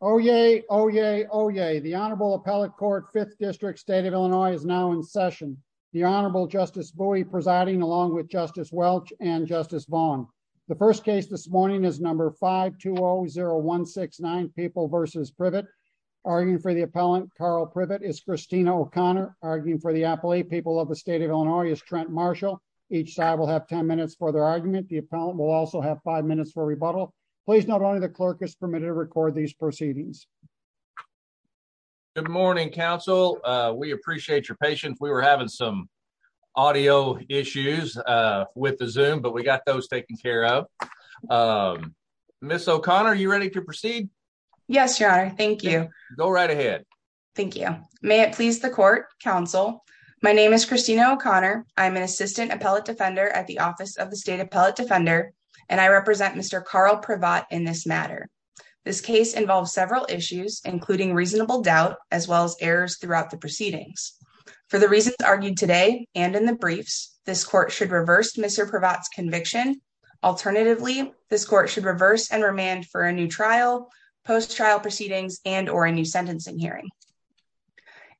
Oh, yay. Oh, yay. Oh, yay. The Honorable Appellate Court Fifth District State of Illinois is now in session. The Honorable Justice Bowie presiding along with Justice Welch and Justice Vaughn. The first case this morning is number 520169, People v. Privatt. Arguing for the appellant, Carl Privatt, is Christina O'Connor. Arguing for the appellate, People of the State of Illinois, is Trent Marshall. Each side will have 10 minutes for their argument. The appellant will also have five minutes for rebuttal. Please note only the clerk is permitted to record these proceedings. Good morning, counsel. We appreciate your patience. We were having some audio issues with the Zoom, but we got those taken care of. Ms. O'Connor, are you ready to proceed? Yes, your honor. Thank you. Go right ahead. Thank you. May it please the court, counsel. My name is Christina O'Connor. I'm an assistant appellate defender at the Office of the State Appellate Defender, and I represent Mr. Carl Privatt in this matter. This case involves several issues, including reasonable doubt, as well as errors throughout the proceedings. For the reasons argued today and in the briefs, this court should reverse Mr. Privatt's conviction. Alternatively, this court should reverse and remand for a new trial, post-trial proceedings, and or a new sentencing hearing.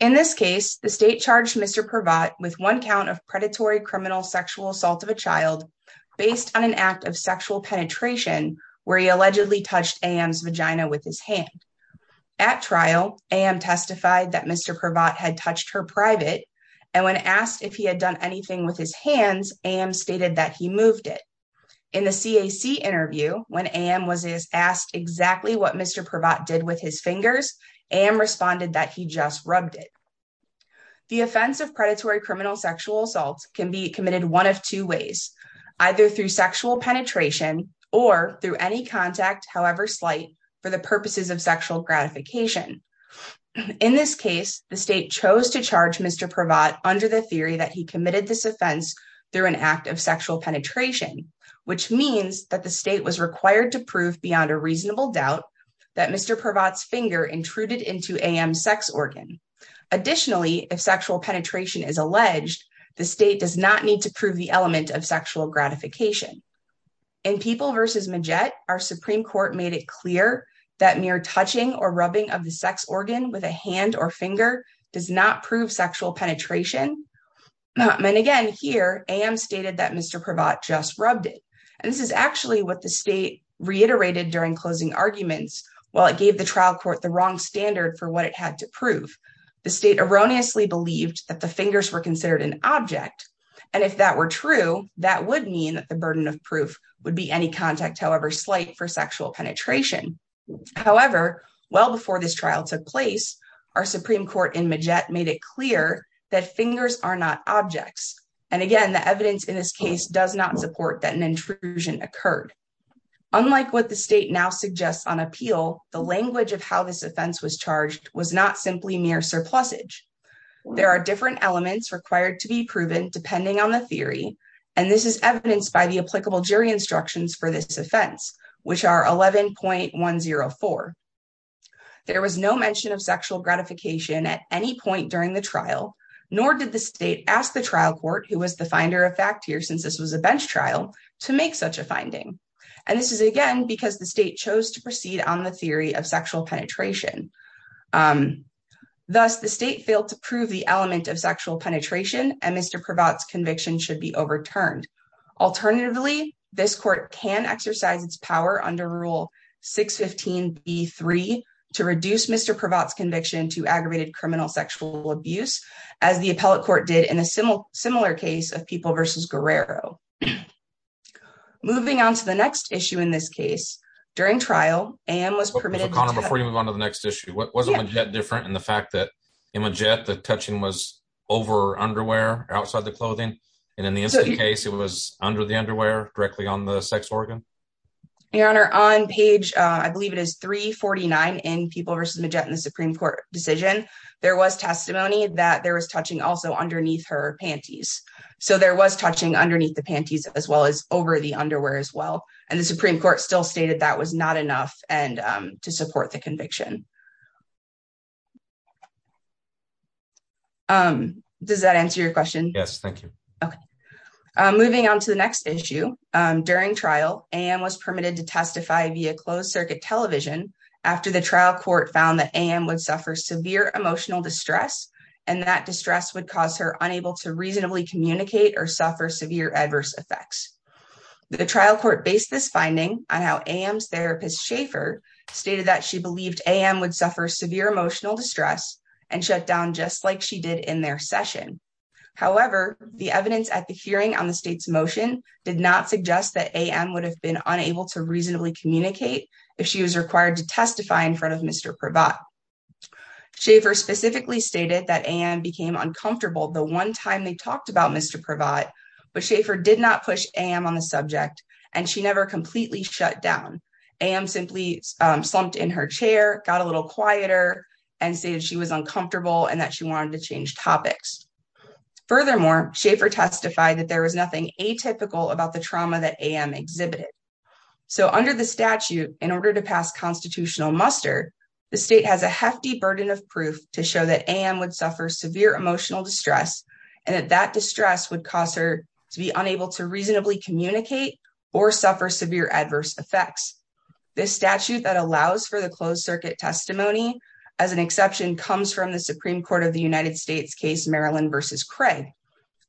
In this case, the state charged Mr. Privatt with one count of predatory criminal sexual assault of a child based on an act of sexual penetration, where he allegedly touched A.M.'s vagina with his hand. At trial, A.M. testified that Mr. Privatt had touched her private, and when asked if he had done anything with his hands, A.M. stated that he moved it. In the CAC interview, when A.M. was asked exactly what Mr. Privatt did with his fingers, A.M. responded that he just rubbed it. The offense of predatory criminal sexual assault can be committed one of two ways, either through sexual penetration or through any contact, however slight, for the purposes of sexual gratification. In this case, the state chose to charge Mr. Privatt under the theory that he committed this offense through an act of sexual penetration, which means that the state was required to prove beyond a reasonable doubt that Mr. Privatt's finger intruded into A.M.'s sex organ. Additionally, if sexual penetration is alleged, the state does not need to prove the element of sexual gratification. In People v. Majette, our Supreme Court made it clear that mere touching or rubbing of the sex organ with a hand or finger does not prove sexual penetration, and again here, A.M. stated that Mr. Privatt just rubbed it, and this is actually what the state reiterated during closing arguments, while it gave the trial court the wrong standard for what it had to prove. The state erroneously believed that the fingers were considered an object, and if that were true, that would mean that the burden of proof would be any contact, however slight, for sexual penetration. However, well before this trial took place, our Supreme Court in Majette made it clear that fingers are not objects, and again, the evidence in this case does not support that an intrusion occurred. Unlike what the state now suggests on appeal, the language of how this offense was charged was not simply mere surplusage. There are different elements required to be proven depending on the theory, and this is evidenced by the applicable jury instructions for this offense, which are 11.104. There was no mention of sexual gratification at any point during the trial, nor did the state ask the trial court, who was the finder of fact here since this was a bench trial, to make such a of sexual penetration. Thus, the state failed to prove the element of sexual penetration, and Mr. Prevot's conviction should be overturned. Alternatively, this court can exercise its power under Rule 615b3 to reduce Mr. Prevot's conviction to aggravated criminal sexual abuse, as the appellate court did in a similar case of People v. Guerrero. Moving on to the next issue in this case, during trial, AM was permitted to- Before you move on to the next issue, wasn't Majette different in the fact that in Majette, the touching was over underwear, outside the clothing, and in the incident case, it was under the underwear, directly on the sex organ? Your Honor, on page, I believe it is 349 in People v. Majette in the Supreme Court decision, there was testimony that there was touching also underneath her panties. So there was touching underneath the panties as well as over the underwear as well, and the Supreme Court still stated that was not enough to support the conviction. Does that answer your question? Yes, thank you. Okay. Moving on to the next issue, during trial, AM was permitted to testify via closed circuit television after the trial court found that AM would suffer severe emotional distress, and that distress would cause her unable to reasonably communicate or suffer severe adverse effects. The trial court based this finding on how AM's therapist, Schaefer, stated that she believed AM would suffer severe emotional distress and shut down just like she did in their session. However, the evidence at the hearing on the state's motion did not suggest that AM would have been unable to reasonably communicate if she was required to testify in front of Mr. Pravat. Schaefer specifically stated that AM became uncomfortable the one time they talked about Mr. Pravat, but Schaefer did not push AM on the subject, and she never completely shut down. AM simply slumped in her chair, got a little quieter, and stated she was uncomfortable and that she wanted to change topics. Furthermore, Schaefer testified that there was nothing atypical about the trauma that AM exhibited. So under the statute, in order to pass constitutional muster, the state has a hefty burden of proof to show that AM would suffer severe emotional distress and that that distress would cause her to be unable to reasonably communicate or suffer severe adverse effects. This statute that allows for the closed circuit testimony, as an exception, comes from the Supreme Court of the United States case Maryland v. Craig,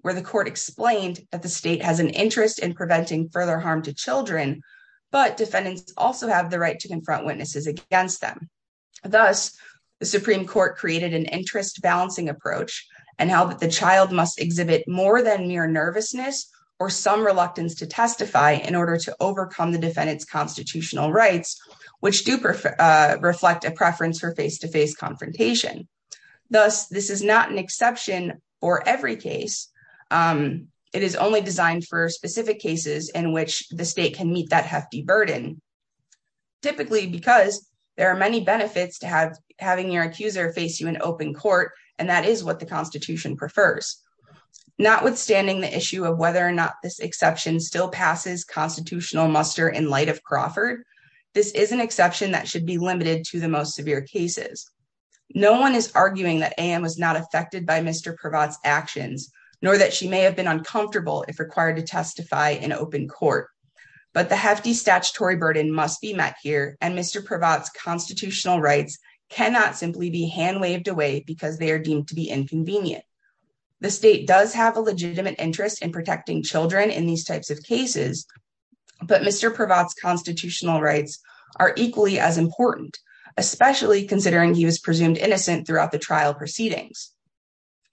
where the court explained that the state has an interest in preventing further harm to children, but defendants also have the right to confront witnesses against them. Thus, the Supreme Court created an interest-balancing approach and held that the child must exhibit more than mere nervousness or some reluctance to testify in order to overcome the defendant's constitutional rights, which do reflect a preference for face-to-face confrontation. Thus, this is not an exception for every case. It is only designed for specific cases in which the state can meet that hefty burden, typically because there are many benefits to having your accuser face you in open court, and that is what the Constitution prefers. Notwithstanding the issue of whether or not this exception still passes constitutional muster in light of Crawford, this is an exception that should be limited to the most severe cases. No one is arguing that AM was not affected by Mr. Pravatt's actions, nor that she may have been uncomfortable if required to but the hefty statutory burden must be met here and Mr. Pravatt's constitutional rights cannot simply be hand-waved away because they are deemed to be inconvenient. The state does have a legitimate interest in protecting children in these types of cases, but Mr. Pravatt's constitutional rights are equally as important, especially considering he was presumed innocent throughout the trial proceedings.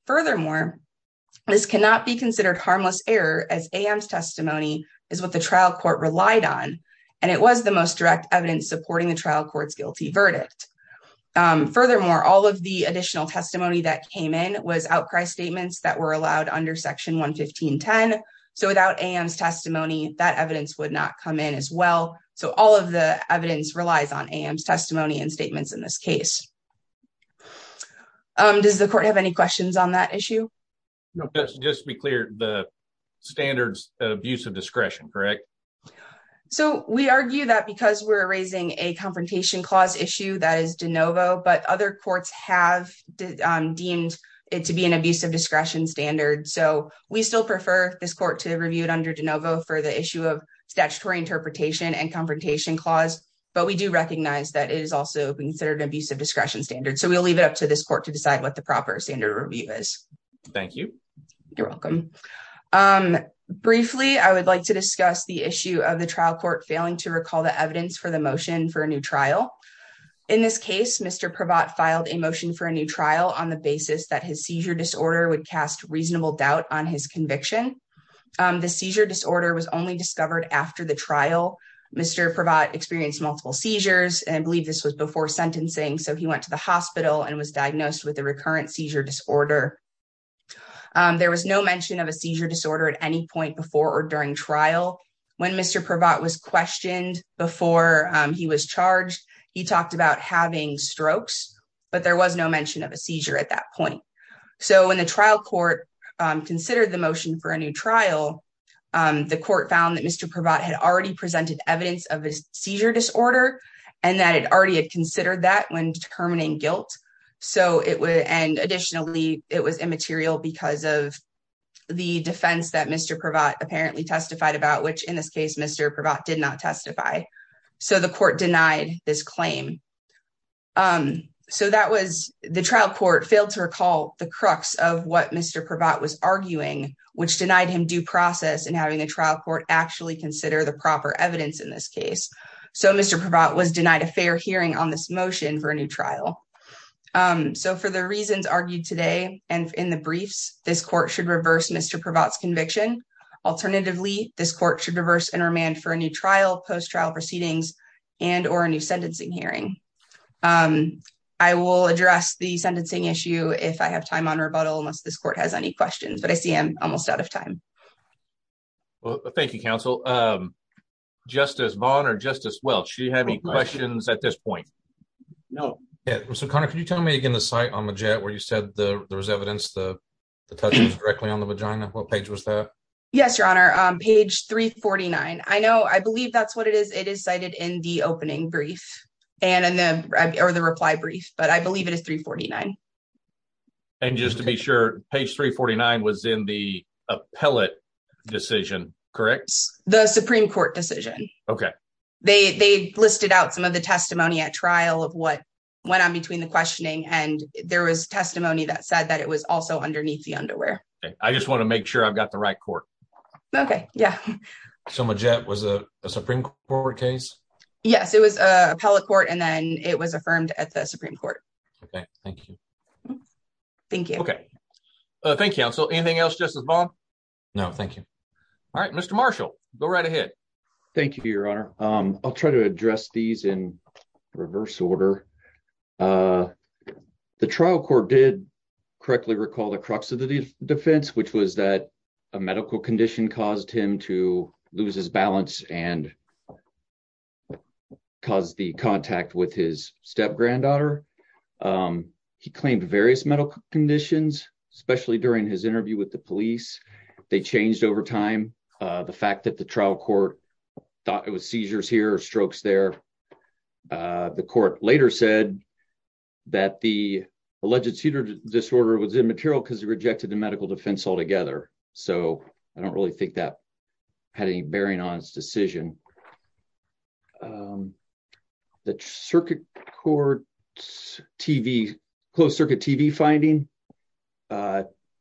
Furthermore, this cannot be considered harmless error as AM's testimony is what the trial court relied on, and it was the most direct evidence supporting the trial court's guilty verdict. Furthermore, all of the additional testimony that came in was outcry statements that were allowed under section 115.10, so without AM's testimony that evidence would not come in as well, so all of the evidence relies on AM's testimony and statements in this case. Does the court have any questions on that issue? No, just to be clear, the standards of abusive discretion, correct? So we argue that because we're raising a confrontation clause issue that is de novo, but other courts have deemed it to be an abusive discretion standard, so we still prefer this court to review it under de novo for the issue of statutory interpretation and confrontation clause, but we do recognize that it is also being considered an abusive discretion standard, so we'll leave it up to this court to decide what the proper standard review is. Thank you. You're welcome. Briefly, I would like to discuss the issue of the trial court failing to recall the evidence for the motion for a new trial. In this case, Mr. Pravat filed a motion for a new trial on the basis that his seizure disorder would cast reasonable doubt on his conviction. The seizure disorder was only discovered after the trial. Mr. Pravat experienced multiple seizures, and I believe this was before sentencing, so he went to the hospital and was diagnosed with a recurrent seizure disorder. There was no mention of a seizure disorder at any point before or during trial. When Mr. Pravat was questioned before he was charged, he talked about having strokes, but there was no mention of a seizure at that point. So when the trial court considered the motion for a new trial, the court found that Mr. Pravat had already presented evidence of his was immaterial because of the defense that Mr. Pravat apparently testified about, which in this case, Mr. Pravat did not testify. So the court denied this claim. The trial court failed to recall the crux of what Mr. Pravat was arguing, which denied him due process in having a trial court actually consider the proper evidence in this case. So Mr. Pravat was denied a fair hearing on this motion for a new trial. So for the reasons argued today and in the briefs, this court should reverse Mr. Pravat's conviction. Alternatively, this court should reverse and remand for a new trial, post-trial proceedings, and or a new sentencing hearing. I will address the sentencing issue if I have time on rebuttal, unless this court has any questions, but I see I'm almost out of time. Well, thank you, counsel. Justice Vaughn or Justice Welch, do you have any questions at this point? No. So, Connor, can you tell me again the site on the jet where you said there was evidence, the touches directly on the vagina, what page was that? Yes, your honor, page 349. I know, I believe that's what it is. It is cited in the opening brief and in the reply brief, but I believe it is 349. And just to be sure, page 349 was in the appellate decision, correct? The Supreme Court decision. Okay. They listed out some of the testimony at trial of what went on between the questioning, and there was testimony that said that it was also underneath the underwear. I just want to make sure I've got the right court. Okay, yeah. So my jet was a Supreme Court case? Yes, it was appellate court, and then it was affirmed at the Supreme Court. Okay, thank you. Thank you. Okay. Thank you, counsel. Anything else, Justice Vaughn? No, thank you. All right, Mr. Marshall, go right ahead. Thank you, your honor. I'll try to address these in reverse order. The trial court did correctly recall the crux of the defense, which was that a medical condition caused him to lose his balance and cause the contact with his step-granddaughter. He claimed various medical conditions, especially during his interview with the police. They changed over time. The fact that the trial court thought it was seizures here or strokes there. The court later said that the alleged seizure disorder was immaterial because he rejected the medical defense altogether. So I don't really think that had any bearing on his decision. The circuit court TV, closed-circuit TV finding.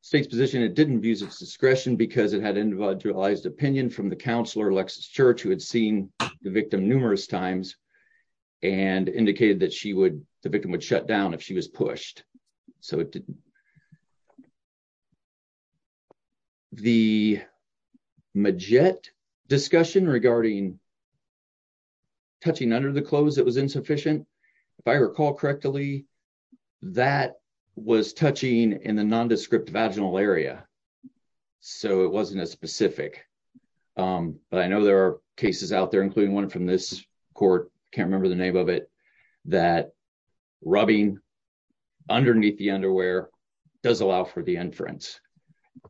State's position, it didn't abuse its discretion because it had individualized opinion from the counselor, Alexis Church, who had seen the victim numerous times and indicated that she would, the victim would shut down if she was pushed. So it didn't. The majette discussion regarding touching under the clothes that was insufficient, if I recall correctly, that was touching in the nondescript vaginal area. So it wasn't as specific. But I know there are cases out there, including one from this court, can't remember the name of it, that rubbing underneath the underwear does allow for the inference.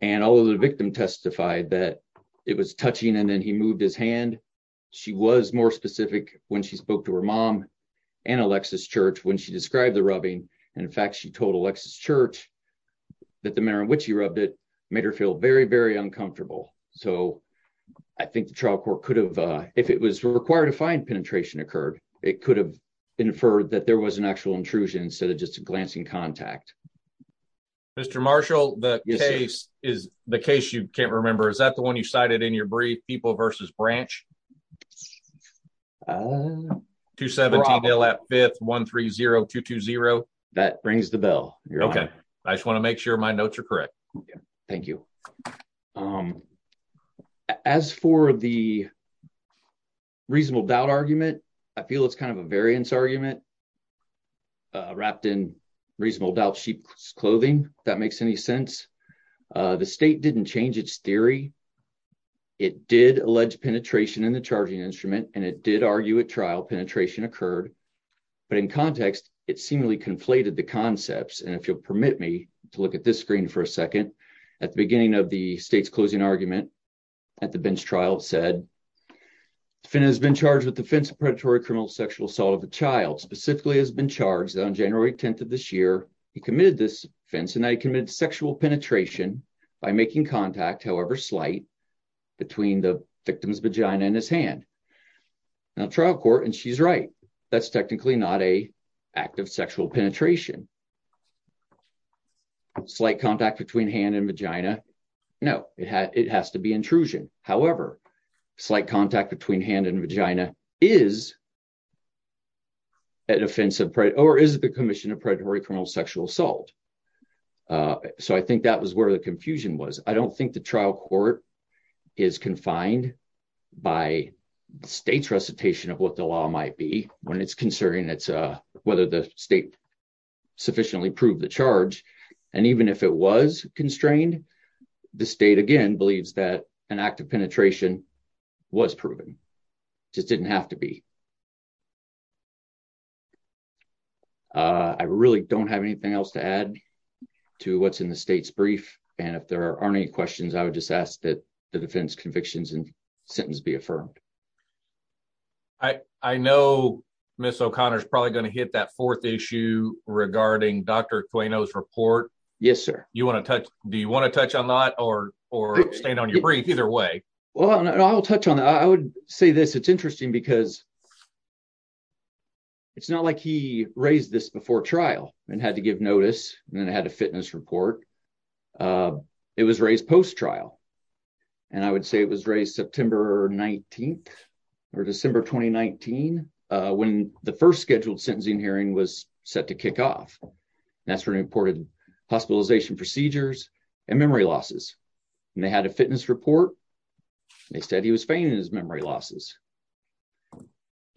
And although the victim testified that it was touching and then he moved his hand, she was more specific when she spoke to her mom and Alexis Church, when she described the rubbing. And in fact, she told Alexis Church that the manner in which he rubbed it made her feel very, very uncomfortable. So I think the trial court could have, if it was required to find penetration occurred, it could have inferred that there was an actual intrusion instead of just a glancing contact. Mr. Marshall, the case is the case. You can't remember. Is that the one you cited in your brief, people versus branch? 217-130-220. That brings the bell. Okay. I just want to make sure my notes are correct. Okay. Thank you. As for the reasonable doubt argument, I feel it's kind of a variance argument wrapped in reasonable doubt sheep's clothing, if that makes any sense. The state didn't change its theory. It did allege penetration in the charging instrument, and it did argue at trial penetration occurred. But in context, it seemingly conflated the concepts. And if you'll permit me to look at this screen for a second, at the beginning of the state's closing argument at the bench trial, it said, the defendant has been charged with the offense of predatory criminal sexual assault of a child. Specifically has been charged that on by making contact, however slight, between the victim's vagina and his hand. Now, trial court, and she's right, that's technically not a act of sexual penetration. Slight contact between hand and vagina. No, it has to be intrusion. However, slight contact between hand and vagina is an offensive, or is the commission of predatory criminal sexual assault. So I think that was where the confusion was. I don't think the trial court is confined by state's recitation of what the law might be when it's concerning whether the state sufficiently proved the charge. And even if it was constrained, the state, again, believes that an act of penetration was proven. Just didn't have to be. I really don't have anything else to add to what's in the state's brief. And if there aren't any questions, I would just ask that the defense convictions and sentence be affirmed. I know Ms. O'Connor is probably going to hit that fourth issue regarding Dr. Quaino's report. Yes, sir. Do you want to touch on that or stand on your brief? Either way. Well, I'll touch on that. I would say this. It's interesting because it's not like he raised this before trial and had to give notice and then had a fitness report. It was raised post-trial. And I would say it was raised September 19th or December 2019, when the first scheduled sentencing hearing was set to kick off. That's when he reported hospitalization procedures and memory losses. And they had a fitness report. They said he was feigning his memory losses.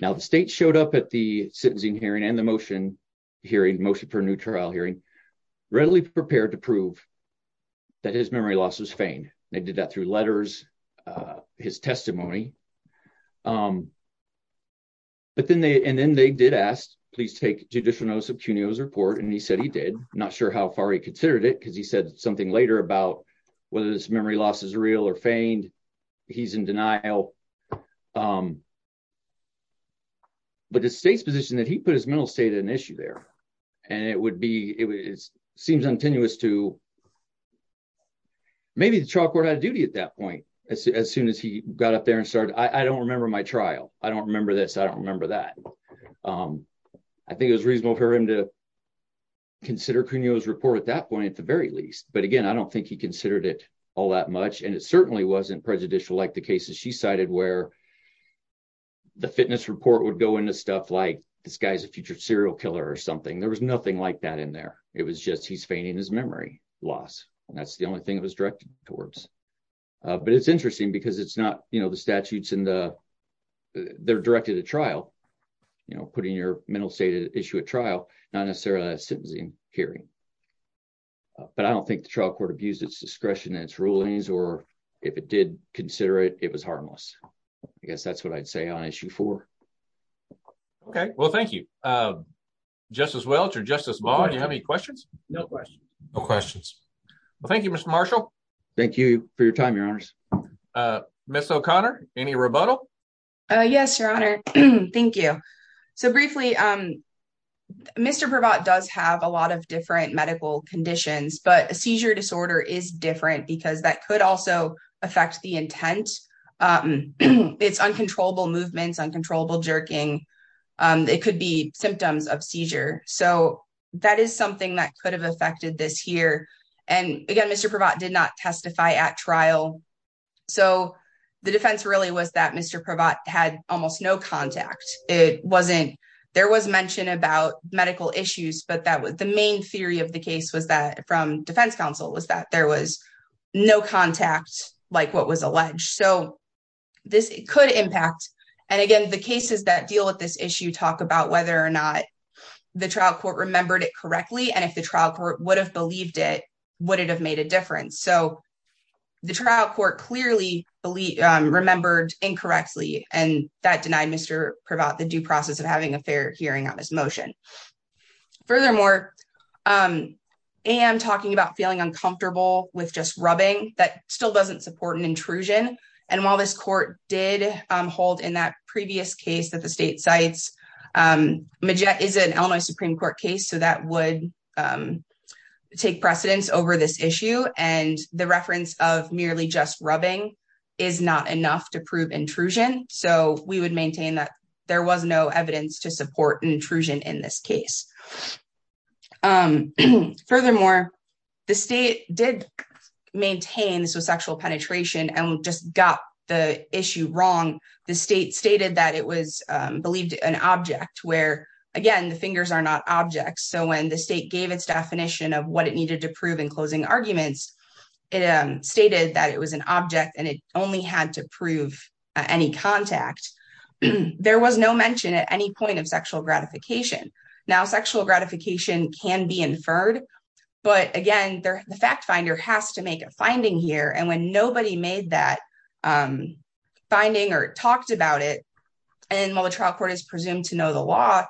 Now, the state showed up at the sentencing hearing and the motion hearing, motion for a new trial hearing, readily prepared to prove that his memory loss was feigned. They did that through letters, his testimony. And then they did ask, please take judicial notice of Quaino's report. And he said he did. I'm not sure how far he considered it because he said something later about whether his memory loss is real or feigned. He's in denial. But the state's position that he put his mental state at an issue there. And it would be, it seems untenuous to, maybe the trial court had a duty at that point. As soon as he got up there and started, I don't remember my trial. I don't remember this. I don't remember that. I think it was reasonable for him to consider Quaino's report at that point, at the very least. But again, I don't think he considered it all that much. And it certainly wasn't prejudicial like the cases she cited where the fitness report would go into stuff like this guy's a future serial killer or something. There was nothing like that in there. It was just, he's feigning his memory loss. And that's the only thing it was directed towards. But it's interesting because the statutes, they're directed at trial, putting your mental state at issue at trial, not necessarily a sentencing hearing. But I don't think the trial court abused its discretion, its rulings, or if it did consider it, it was harmless. I guess that's what I'd say on issue four. Okay. Well, thank you, Justice Welch or Justice Maher. Do you have any questions? No questions. No questions. Well, thank you, Mr. Marshall. Thank you for your time, Your Honors. Ms. O'Connor, any rebuttal? Yes, Your Honor. Thank you. So briefly, Mr. Pravat does have a lot of different medical conditions, but a seizure disorder is different because that could also affect the intent. It's uncontrollable movements, uncontrollable jerking. It could be symptoms of seizure. So at trial, the defense really was that Mr. Pravat had almost no contact. There was mention about medical issues, but the main theory of the case from defense counsel was that there was no contact like what was alleged. So this could impact. And again, the cases that deal with this issue talk about whether or not the trial court remembered it correctly. And if the trial court would have believed it, would it have made a difference? So the trial court clearly remembered incorrectly, and that denied Mr. Pravat the due process of having a fair hearing on this motion. Furthermore, and talking about feeling uncomfortable with just rubbing, that still doesn't support an intrusion. And while this court did hold in that previous case that the state take precedence over this issue and the reference of merely just rubbing is not enough to prove intrusion. So we would maintain that there was no evidence to support an intrusion in this case. Furthermore, the state did maintain this was sexual penetration and just got the issue wrong. The state stated that it was believed an object where, again, the fingers are not objects. So when the state gave its definition of what it needed to prove in closing arguments, it stated that it was an object and it only had to prove any contact. There was no mention at any point of sexual gratification. Now, sexual gratification can be inferred. But again, the fact finder has to make a finding here. And when nobody made that finding or talked about it, and while the trial court is presumed to know the law,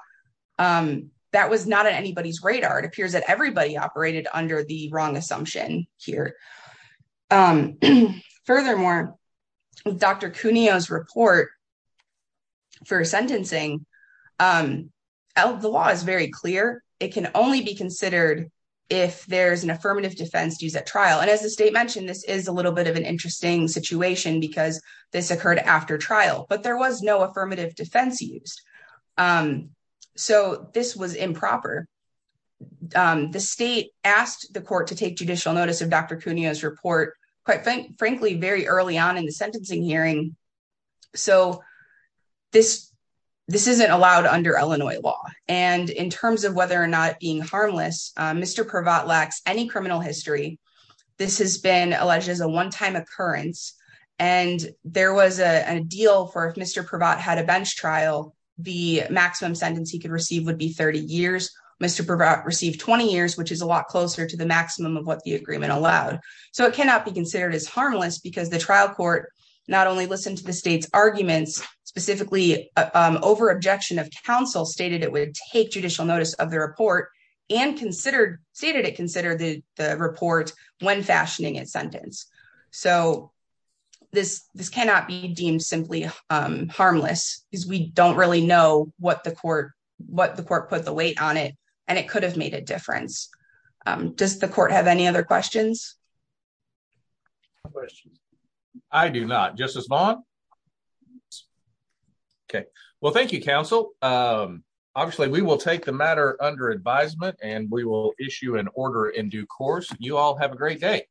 that was not on anybody's radar. It appears that everybody operated under the wrong assumption here. Furthermore, Dr. Cuneo's report for sentencing, the law is very clear. It can only be considered if there's an affirmative defense used at trial. And as the state mentioned, this is a little bit of an interesting situation because this occurred after trial, but there was no affirmative defense used. So this was improper. The state asked the court to take judicial notice of Dr. Cuneo's report, quite frankly, very early on in the sentencing hearing. So this isn't allowed under Illinois law. And in terms of whether or not being harmless, Mr. Pravat lacks any criminal history. This has been alleged as a one-time occurrence. And there was a deal for if Mr. Pravat had a bench trial, the maximum sentence he could receive would be 30 years. Mr. Pravat received 20 years, which is a lot closer to the maximum of what the agreement allowed. So it cannot be considered as harmless because the trial court not only listened to the state's arguments, specifically over objection of counsel stated it would take judicial notice of the report and stated it would consider the report when fashioning its sentence. So this cannot be deemed simply harmless because we don't really know what the court put the weight on it, and it could have made a difference. Does the court have any other questions? I do not. Justice Vaughn? Okay. Well, thank you, counsel. Obviously, we will take the matter under advisement, and we will issue an order in due course. You all have a great day.